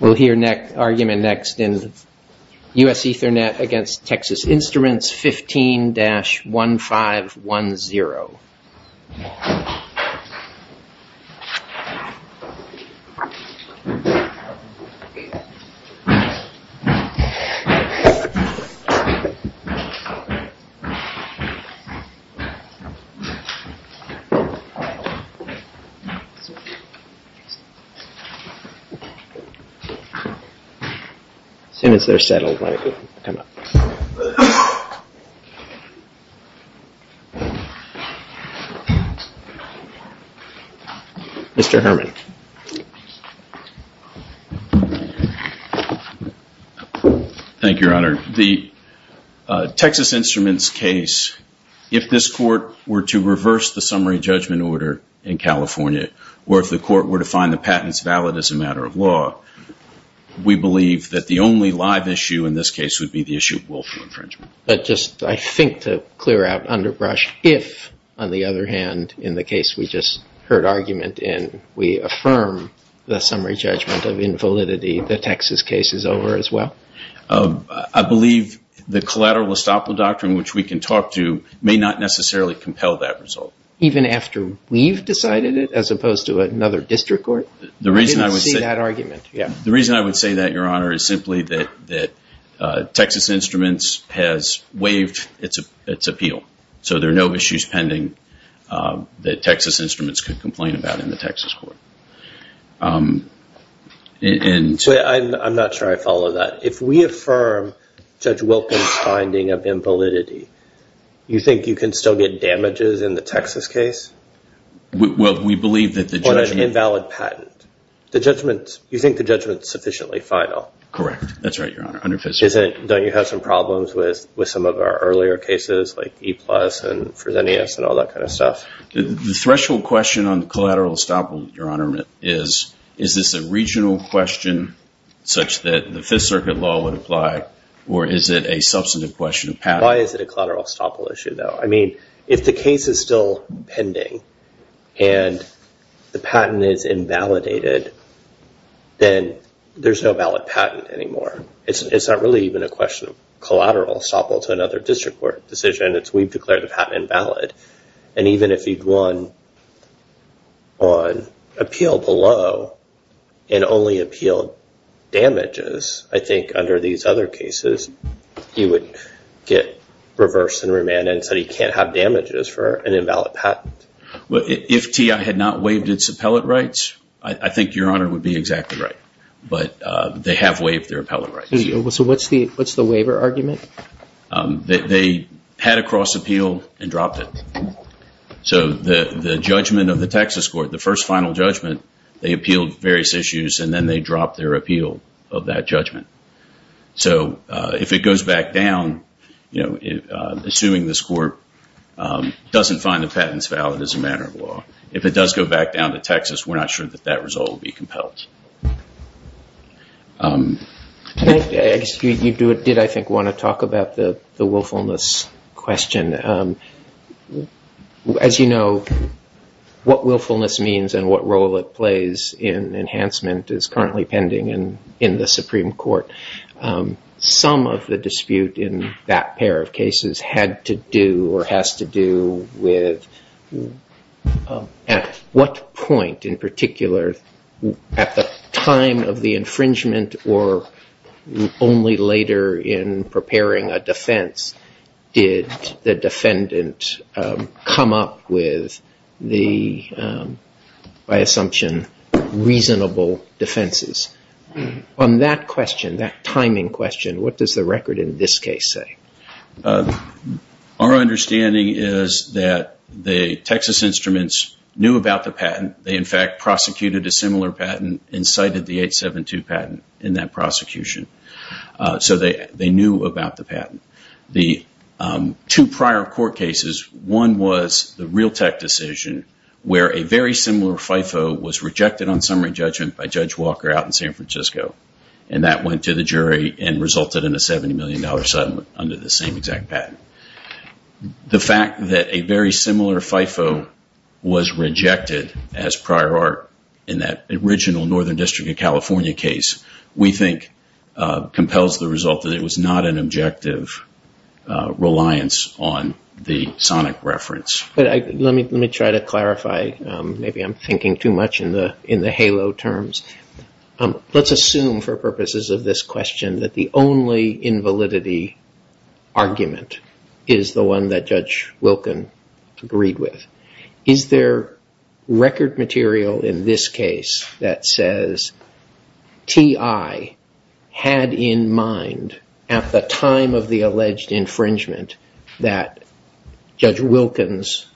We'll hear argument next in U.S. Ethernet against Texas Instruments 15-1510. The Texas Instruments case, if this court were to reverse the summary judgment order in California, or if the court were to find the patents valid as a matter of law, we believe that the only live issue in this case would be the issue of willful infringement. But just, I think, to clear out underbrush, if, on the other hand, in the case we just heard argument in, we affirm the summary judgment of invalidity, the Texas case is over as well? I believe the collateral estoppel doctrine, which we can talk to, may not necessarily compel that result. Even after we've decided it, as opposed to another district court? The reason I would say that, Your Honor, is simply that Texas Instruments has waived its appeal. So there are no issues pending that Texas Instruments could complain about in the Texas court. I'm not sure I follow that. If we affirm Judge Wilkins' finding of invalidity, you think you can still get damages in the Texas case? Well, we believe that the judgment... On an invalid patent. The judgment, you think the judgment is sufficiently final? Correct. That's right, Your Honor. Under Fifth Circuit. Don't you have some problems with some of our earlier cases, like E-Plus and Fresenius and all that kind of stuff? The threshold question on the collateral estoppel, Your Honor, is, is this a regional question such that the Fifth Circuit law would apply, or is it a substantive question of patent? Why is it a collateral estoppel issue, though? If the case is still pending, and the patent is invalidated, then there's no valid patent anymore. It's not really even a question of collateral estoppel to another district court decision. We've declared the patent invalid. Even if he'd won on appeal below, and only appealed damages, I think under these other cases, he would get reversed in remand and said he can't have damages for an invalid patent. Well, if TI had not waived its appellate rights, I think Your Honor would be exactly right. But they have waived their appellate rights. So what's the waiver argument? They had a cross appeal and dropped it. So the judgment of the Texas court, the first final judgment, they appealed various issues, and then they dropped their appeal of that judgment. So if it goes back down, assuming this court doesn't find the patents valid as a matter of law, if it does go back down to Texas, we're not sure that that result will be compelled. I guess you did, I think, want to talk about the willfulness question. As you know, what willfulness means and what role it plays in enhancement is currently pending in the Supreme Court. Some of the dispute in that pair of cases had to do or has to do with at what point in particular, at the time of the infringement or only later in preparing a defense, did the defendant come up with the, by assumption, reasonable defenses. On that question, that timing question, what does the record in this case say? Our understanding is that the Texas Instruments knew about the patent. They, in fact, prosecuted a similar patent and cited the 872 patent in that prosecution. So they knew about the patent. The two prior court cases, one was the Realtek decision where a very similar FIFO was rejected on summary judgment by Judge Walker out in San Francisco and that went to the jury and resulted in a $70 million settlement under the same exact patent. The fact that a very similar FIFO was rejected as prior art in that original Northern District of California case we think compels the result that it was not an objective reliance on the sonic reference. But let me try to clarify, maybe I'm thinking too much in the halo terms. Let's assume for purposes of this question that the only invalidity argument is the one that Judge Wilkin agreed with. Is there record material in this case that says T.I. had in mind at the time of the alleged infringement that Judge Wilkin's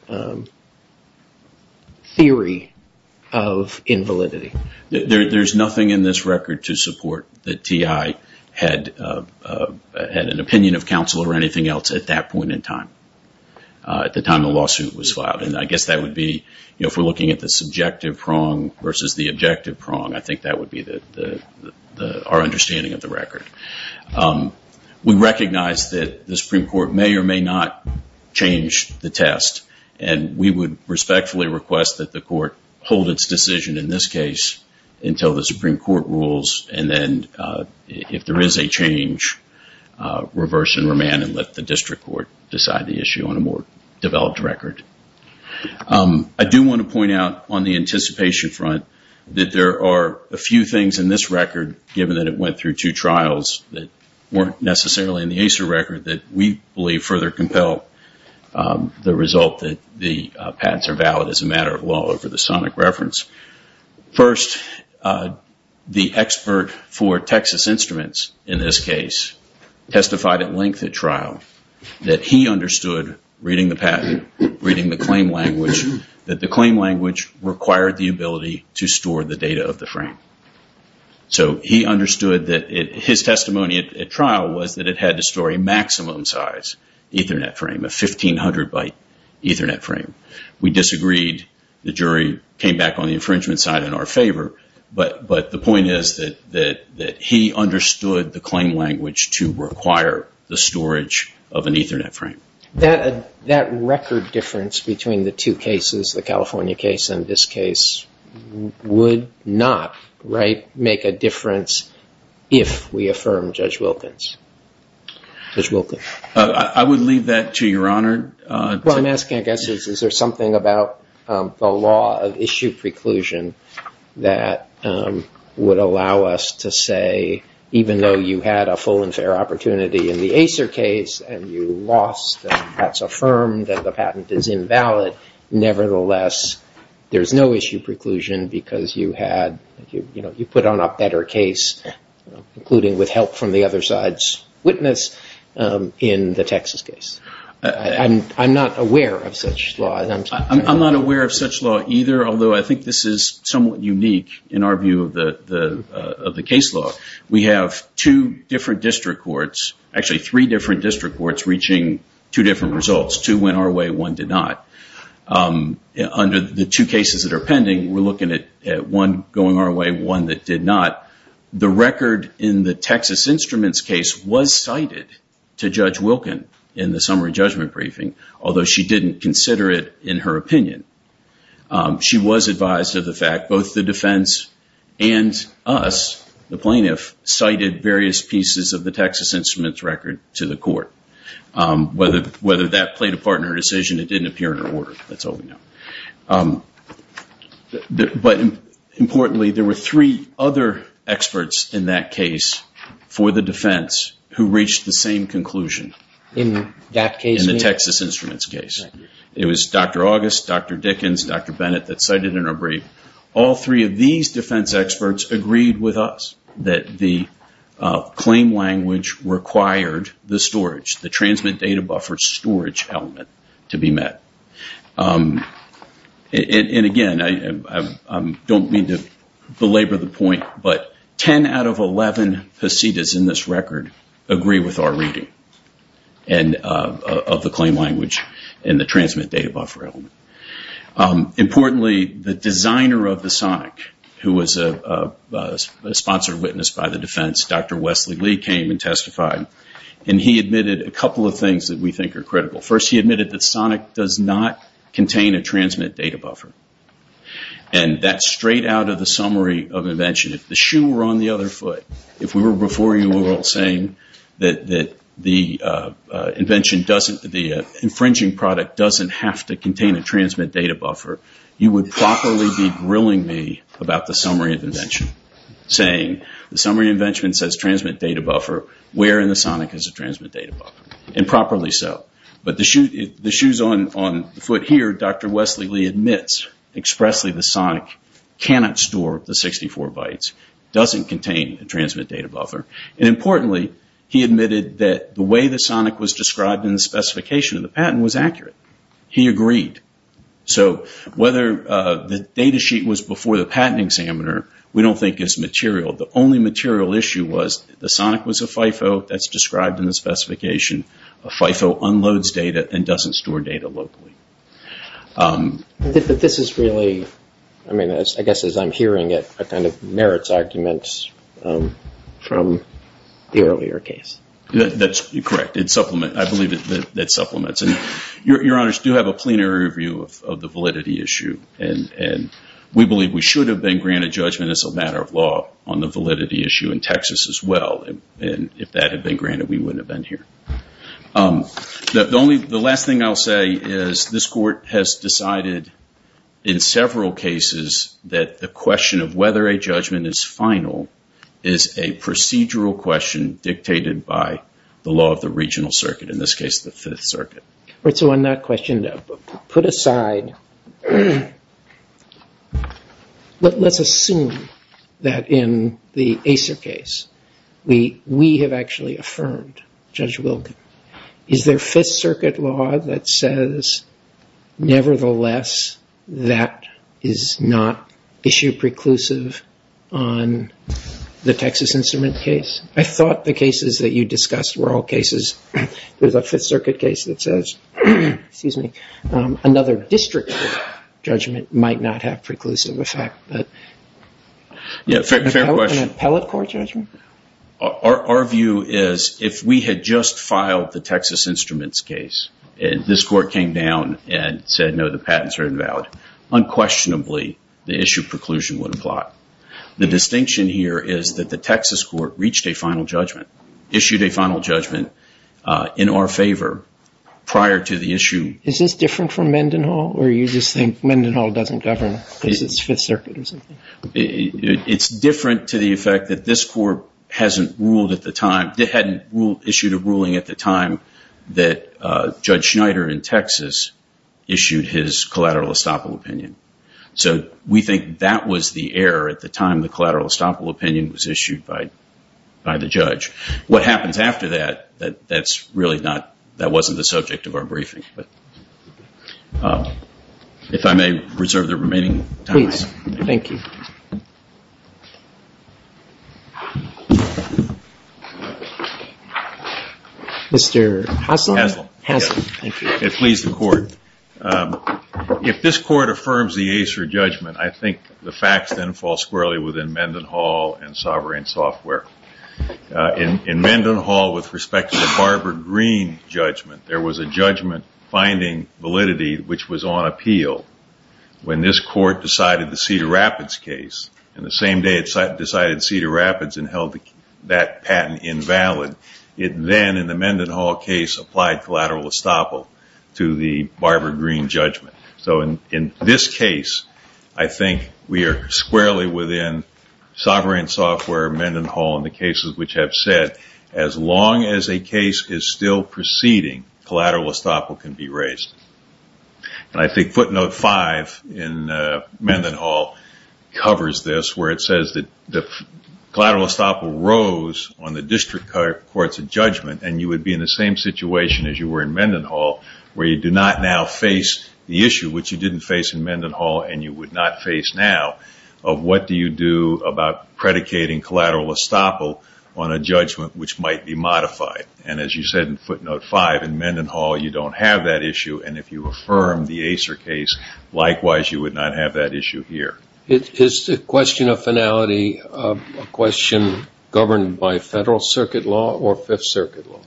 theory of invalidity? There's nothing in this record to support that T.I. had an opinion of counsel or anything else at that point in time, at the time the lawsuit was filed. And I guess that would be, you know, if we're looking at the subjective prong versus the objective prong, I think that would be our understanding of the record. We recognize that the Supreme Court may or may not change the test and we would respectfully request that the court hold its decision in this case until the Supreme Court rules and then if there is a change, reverse and remand and let the district court decide the issue on a more developed record. I do want to point out on the anticipation front that there are a few things in this record given that it went through two trials that weren't necessarily in the ACER record that we believe further compel the result that the patents are valid as a matter of law over the sonic reference. First, the expert for Texas Instruments in this case testified at length at trial that he understood reading the patent, reading the claim language, that the claim language required the ability to store the data of the frame. So he understood that his testimony at trial was that it had to store a maximum size Ethernet frame, a 1,500 byte Ethernet frame. We disagreed. The jury came back on the infringement side in our favor. But the point is that he understood the claim language to require the storage of an Ethernet frame. That record difference between the two cases, the California case and this case, would not make a difference if we affirm Judge Wilkins. I would leave that to your honor. I'm asking, I guess, is there something about the law of issue preclusion that would allow us to say, even though you had a full and fair opportunity in the ACER case and you lost and that's affirmed that the patent is invalid, nevertheless, there's no issue preclusion because you had, you know, you put on a better case, including with help from the other side's witness in the Texas case. I'm not aware of such law. I'm not aware of such law either, although I think this is somewhat unique in our view of the case law. We have two different district courts, actually three different district courts, reaching two different results. Two went our way. One did not. Under the two cases that are pending, we're looking at one going our way, one that did not. The record in the Texas Instruments case was cited to Judge Wilkins in the summary judgment briefing, although she didn't consider it in her opinion. She was advised of the fact both the defense and us, the plaintiff, cited various pieces of the Texas Instruments record to the court. Whether that played a part in her decision, it didn't appear in her order. That's all we know. But importantly, there were three other experts in that case for the defense who reached the same conclusion in the Texas Instruments case. It was Dr. August, Dr. Dickens, Dr. Bennett that cited in her brief. All three of these defense experts agreed with us that the claim language required the storage, the transmit data buffer storage element to be met. And again, I don't mean to belabor the point, but 10 out of 11 PECIDAs in this record agree with our reading of the claim language and the transmit data buffer element. Importantly, the designer of the SONIC, who was a sponsored witness by the defense, Dr. Wesley Lee, came and testified. And he admitted a couple of things that we think are critical. First, he admitted that SONIC does not contain a transmit data buffer. And that's straight out of the summary of invention. If the shoe were on the other foot, if we were before you all saying that the infringing product doesn't have to contain a transmit data buffer, you would properly be grilling me about the summary of invention, saying the summary of invention says transmit data buffer, where in the SONIC is a transmit data buffer? And properly so. But the shoes on the foot here, Dr. Wesley Lee admits expressly the SONIC cannot store the 64 bytes, doesn't contain a transmit data buffer, and importantly, he admitted that the way the SONIC was described in the specification of the patent was accurate. He agreed. So whether the data sheet was before the patent examiner, we don't think is material. The only material issue was the SONIC was a FIFO, that's described in the specification. A FIFO unloads data and doesn't store data locally. But this is really, I mean, I guess as I'm hearing it, a kind of merits argument from the earlier case. That's correct. It's supplement. I believe that supplements. And your honors do have a plenary review of the validity issue. And we believe we should have been granted judgment as a matter of law on the validity issue in Texas as well. And if that had been granted, we wouldn't have been here. The only, the last thing I'll say is this court has decided in several cases that the question of whether a judgment is final is a procedural question dictated by the law of the regional circuit, in this case, the Fifth Circuit. Right. So on that question, put aside, let's assume that in the ACER case, we have actually affirmed Judge Wilken. Is there Fifth Circuit law that says, nevertheless, that is not issue preclusive on the Texas Instrument case? I thought the cases that you discussed were all cases. There's a Fifth Circuit case that says, excuse me, another district judgment might not have preclusive effect. Yeah. Fair question. An appellate court judgment? Our view is, if we had just filed the Texas Instruments case, and this court came down and said, no, the patents are invalid, unquestionably, the issue preclusion would apply. The distinction here is that the Texas court reached a final judgment, issued a final judgment in our favor prior to the issue. Is this different from Mendenhall, or you just think Mendenhall doesn't govern because it's Fifth Circuit or something? It's different to the effect that this court hasn't ruled at the time, hadn't issued a ruling at the time that Judge Schneider in Texas issued his collateral estoppel opinion. So we think that was the error at the time the collateral estoppel opinion was issued by the judge. What happens after that, that's really not, that wasn't the subject of our briefing. If I may reserve the remaining time. Please. Thank you. Mr. Hassel? Hassel. Thank you. It pleased the court. If this court affirms the Acer judgment, I think the facts then fall squarely within Mendenhall and Sovereign Software. In Mendenhall, with respect to the Barbara Greene judgment, there was a judgment finding validity which was on appeal when this court decided the Cedar Rapids case, and the same day it decided Cedar Rapids and held that patent invalid, it then, in the Mendenhall case, applied collateral estoppel to the Barbara Greene judgment. So in this case, I think we are squarely within Sovereign Software, Mendenhall, and the cases which have said, as long as a case is still proceeding, collateral estoppel can be raised. I think footnote five in Mendenhall covers this, where it says that the collateral estoppel rose on the district court's judgment, and you would be in the same situation as you were in Mendenhall, where you do not now face the issue, which you didn't face in Mendenhall and you would not face now, of what do you do about predicating collateral estoppel on a judgment which might be modified. And as you said in footnote five, in Mendenhall, you don't have that issue, and if you affirm the Acer case, likewise, you would not have that issue here. Is the question of finality a question governed by Federal Circuit law or Fifth Circuit law?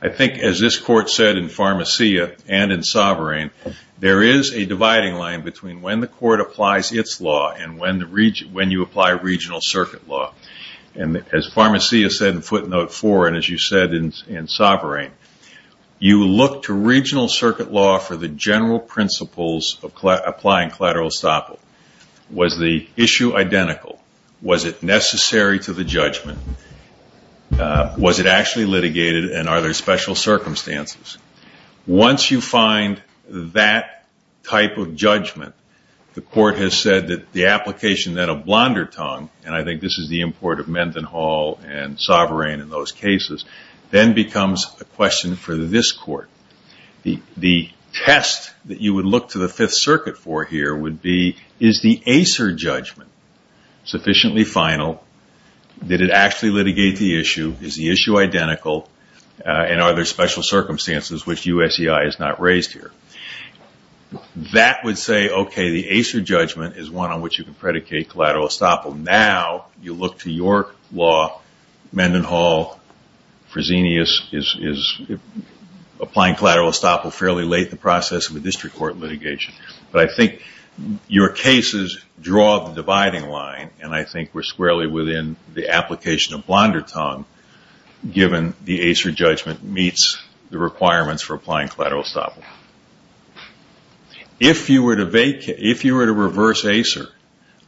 I think, as this court said in Pharmacia and in Sovereign, there is a dividing line between when the court applies its law and when you apply regional circuit law. And as Pharmacia said in footnote four, and as you said in Sovereign, you look to regional circuit law for the general principles of applying collateral estoppel. Was the issue identical? Was it necessary to the judgment? Was it actually litigated, and are there special circumstances? Once you find that type of judgment, the court has said that the application then of Blondertongue, and I think this is the import of Mendenhall and Sovereign in those cases, then becomes a question for this court. The test that you would look to the Fifth Circuit for here would be, is the Acer judgment sufficiently final? Did it actually litigate the issue? Is the issue identical? And are there special circumstances which USEI has not raised here? That would say, okay, the Acer judgment is one on which you can predicate collateral estoppel. Now, you look to your law, Mendenhall, Fresenius is applying collateral estoppel fairly late in the process of a district court litigation. But I think your cases draw the dividing line, and I think we're squarely within the application of Blondertongue, given the Acer judgment meets the requirements for applying collateral estoppel. If you were to reverse Acer,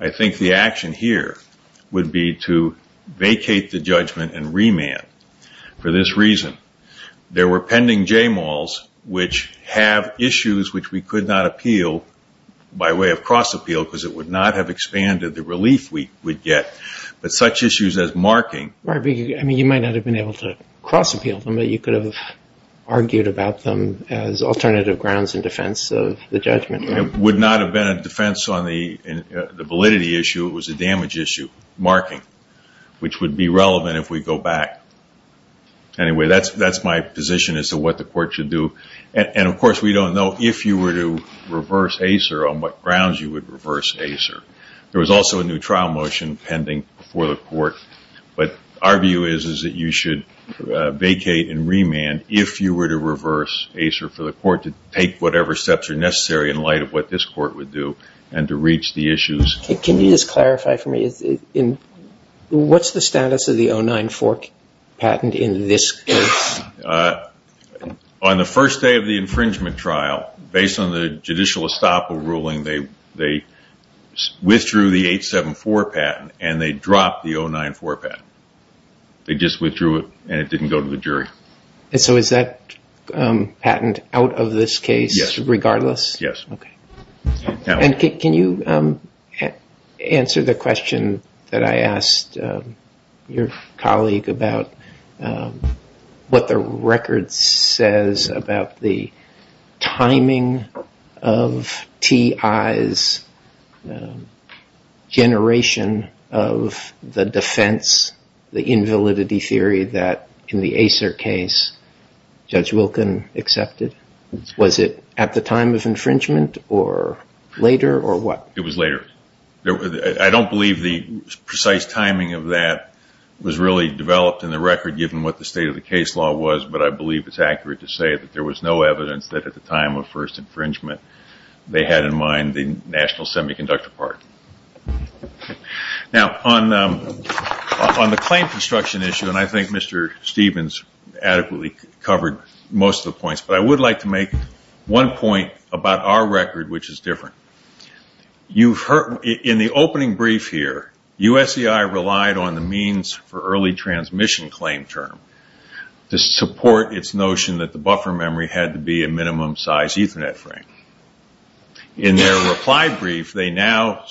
I think the action here would be to vacate the judgment and remand. For this reason, there were pending JMALs which have issues which we could not appeal by way of cross-appeal, because it would not have expanded the relief we would get. But such issues as marking... Right, but you might not have been able to cross-appeal them, but you could have argued about them as alternative grounds in defense of the judgment. It would not have been a defense on the validity issue, it was a damage issue, marking, which would be relevant if we go back. Anyway, that's my position as to what the court should do. And of course, we don't know if you were to reverse Acer on what grounds you would reverse Acer. There was also a new trial motion pending before the court, but our view is that you should vacate and remand if you were to reverse Acer for the court to take whatever steps are necessary in light of what this court would do and to reach the issues. Can you just clarify for me, what's the status of the 094 patent in this case? On the first day of the infringement trial, based on the judicial estoppel ruling, they withdrew the 874 patent and they dropped the 094 patent. They just withdrew it and it didn't go to the jury. So is that patent out of this case regardless? Yes. Okay. And can you answer the question that I asked your colleague about what the record says about the timing of TI's generation of the defense, the invalidity theory that in the Acer case, Judge Wilkin accepted? Was it at the time of infringement or later or what? It was later. I don't believe the precise timing of that was really developed in the record given what the state of the case law was, but I believe it's accurate to say that there was no evidence that at the time of first infringement they had in mind the national semiconductor part. Now on the claim construction issue, and I think Mr. Stevens adequately covered most of the points, but I would like to make one point about our record which is different. In the opening brief here, USCI relied on the means for early transmission claim term to support its notion that the buffer memory had to be a minimum size Ethernet frame. In their reply brief, they now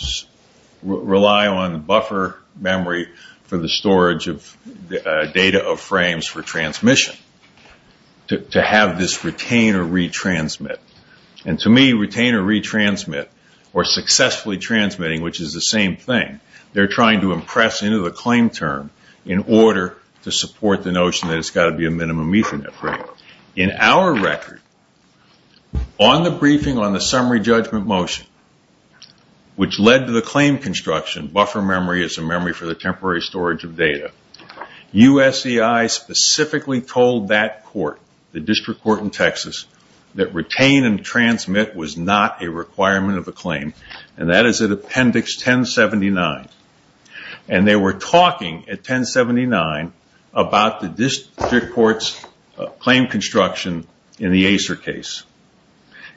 rely on the buffer memory for the storage of data of frames for transmission to have this retain or retransmit. To me, retain or retransmit or successfully transmitting, which is the same thing, they are trying to impress into the claim term in order to support the notion that it's got to be a minimum Ethernet frame. In our record, on the briefing on the summary judgment motion, which led to the claim construction, buffer memory is a memory for the temporary storage of data. USCI specifically told that court, the district court in Texas, that retain and transmit was not a requirement of the claim. That is at appendix 1079. They were talking at 1079 about the district court's claim construction in the Acer case.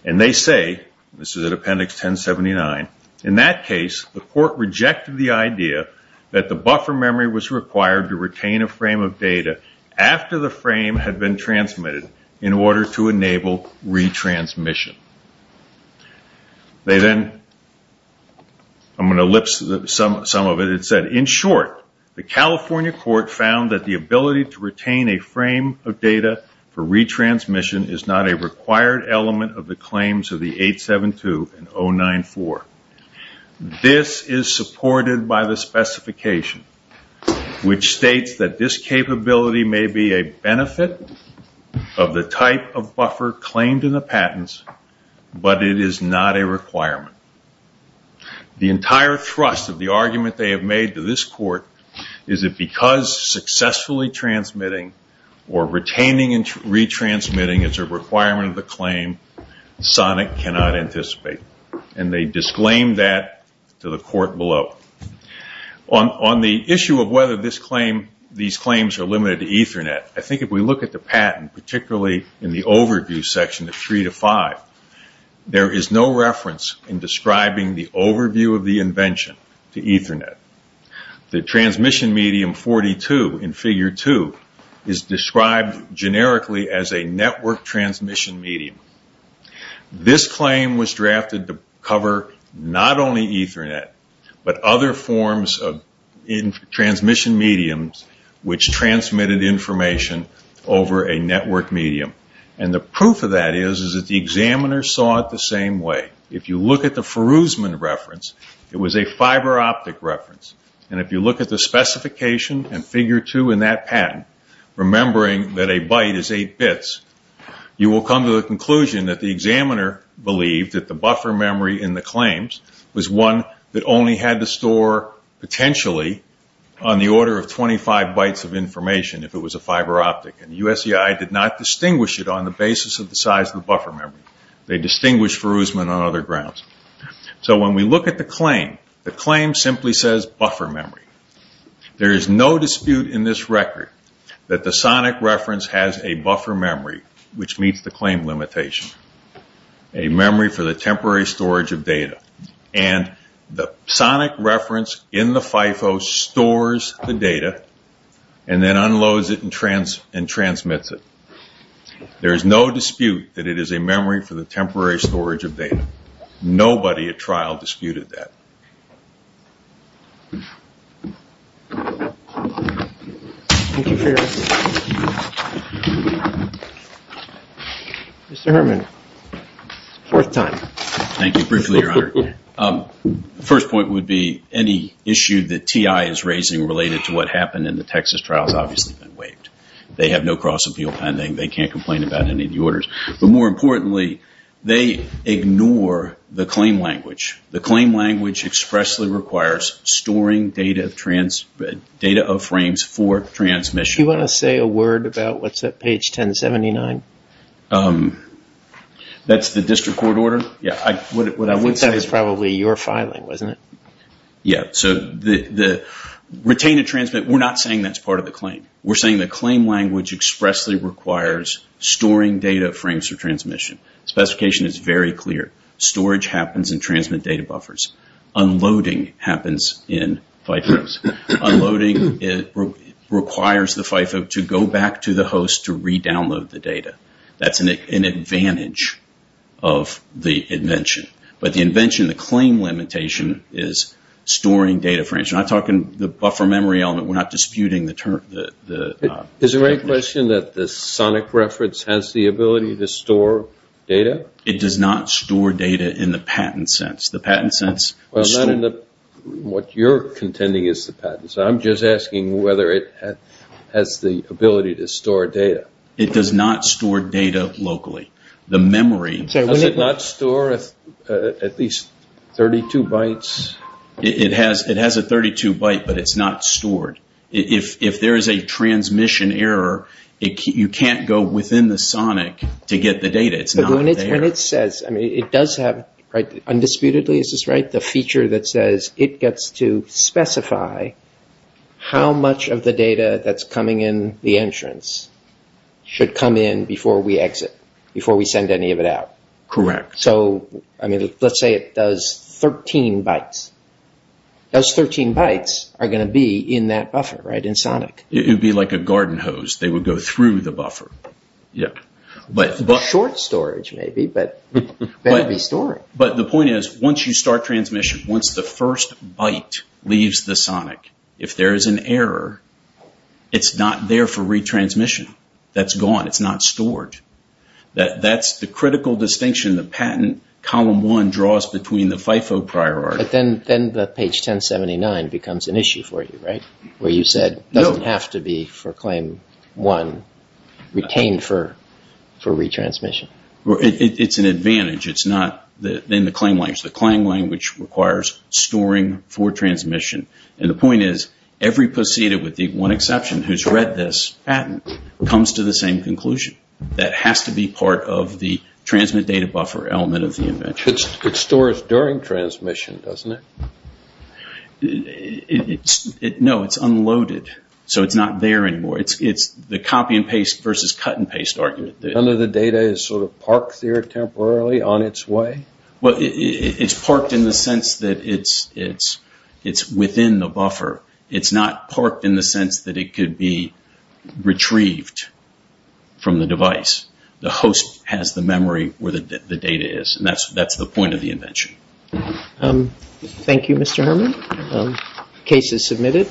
They say, this is at appendix 1079, in that case, the court rejected the idea that the buffer memory was required to retain a frame of data after the frame had been transmitted in order to enable retransmission. They then, I'm going to elipse some of it, it said, in short, the California court found that the ability to retain a frame of data for retransmission is not a required element of the claims of the 872 and 094. This is supported by the specification, which states that this capability may be a benefit of the type of buffer claimed in the patents, but it is not a requirement. The entire thrust of the argument they have made to this court is that because successfully transmitting or retaining and retransmitting is a requirement of the claim, SONIC cannot anticipate. They disclaimed that to the court below. On the issue of whether these claims are limited to Ethernet, I think if we look at the patent, particularly in the overview section of 3-5, there is no reference in describing the overview of the invention to Ethernet. The transmission medium 42 in figure 2 is described generically as a network transmission medium. This claim was drafted to cover not only Ethernet, but other forms of transmission mediums which transmitted information over a network medium. The proof of that is that the examiner saw it the same way. If you look at the Feroosman reference, it was a fiber optic reference. If you look at the specification in figure 2 in that patent, remembering that a byte is 8 bits, you will come to the conclusion that the examiner believed that the buffer memory in the claims was one that only had to store potentially on the order of 25 bytes of information if it was a fiber optic. USCI did not distinguish it on the basis of the size of the buffer memory. They distinguished Feroosman on other grounds. When we look at the claim, the claim simply says buffer memory. There is no dispute in this record that the SONIC reference has a buffer memory which meets the claim limitation. A memory for the temporary storage of data. The SONIC reference in the FIFO stores the data and then unloads it and transmits it. There is no dispute that it is a memory for the temporary storage of data. Nobody at trial disputed that. Thank you for your answer. Mr. Herman, fourth time. Thank you briefly, your honor. The first point would be any issue that TI is raising related to what happened in the Texas trial has obviously been waived. They have no cross-appeal pending. They can't complain about any of the orders. More importantly, they ignore the claim language. The claim language expressly requires storing data of frames for transmission. Do you want to say a word about what's at page 1079? That's the district court order? What I would say is probably your filing, isn't it? Yeah. So the retain and transmit, we're not saying that's part of the claim. We're saying the claim language expressly requires storing data of frames for transmission. The specification is very clear. Storage happens in transmit data buffers. Unloading happens in FIFOs. Unloading requires the FIFO to go back to the host to re-download the data. That's an advantage of the invention. But the invention, the claim limitation, is storing data frames. We're not talking the buffer memory element. We're not disputing the term. Is there any question that the sonic reference has the ability to store data? It does not store data in the patent sense. Well, not in what you're contending is the patent sense. I'm just asking whether it has the ability to store data. It does not store data locally. The memory... Does it not store at least 32 bytes? It has a 32 byte, but it's not stored. If there is a transmission error, you can't go within the sonic to get the data. It's not there. But when it says... I mean, it does have... Undisputedly, is this right? The feature that says it gets to specify how much of the data that's coming in the entrance. Should come in before we exit. Before we send any of it out. Correct. So, I mean, let's say it does 13 bytes. Those 13 bytes are going to be in that buffer, right? In sonic. It would be like a garden hose. They would go through the buffer. Yeah. Short storage, maybe, but better be storing. But the point is, once you start transmission, once the first byte leaves the sonic, if there is an error, it's not there for retransmission. That's gone. It's not stored. That's the critical distinction. The patent column one draws between the FIFO priority. But then the page 1079 becomes an issue for you, right? Where you said, doesn't have to be for claim one. Retained for retransmission. It's an advantage. It's not... Then the claim language. The claim language requires storing for transmission. And the point is, every procedure with the one exception who's read this patent comes to the same conclusion. That has to be part of the transmit data buffer element of the invention. It stores during transmission, doesn't it? No, it's unloaded. So it's not there anymore. It's the copy and paste versus cut and paste argument. None of the data is sort of parked there temporarily on its way? Well, it's parked in the sense that it's within the buffer. It's not parked in the sense that it could be retrieved from the device. The host has the memory where the data is. And that's the point of the invention. Thank you, Mr. Herman. Case is submitted.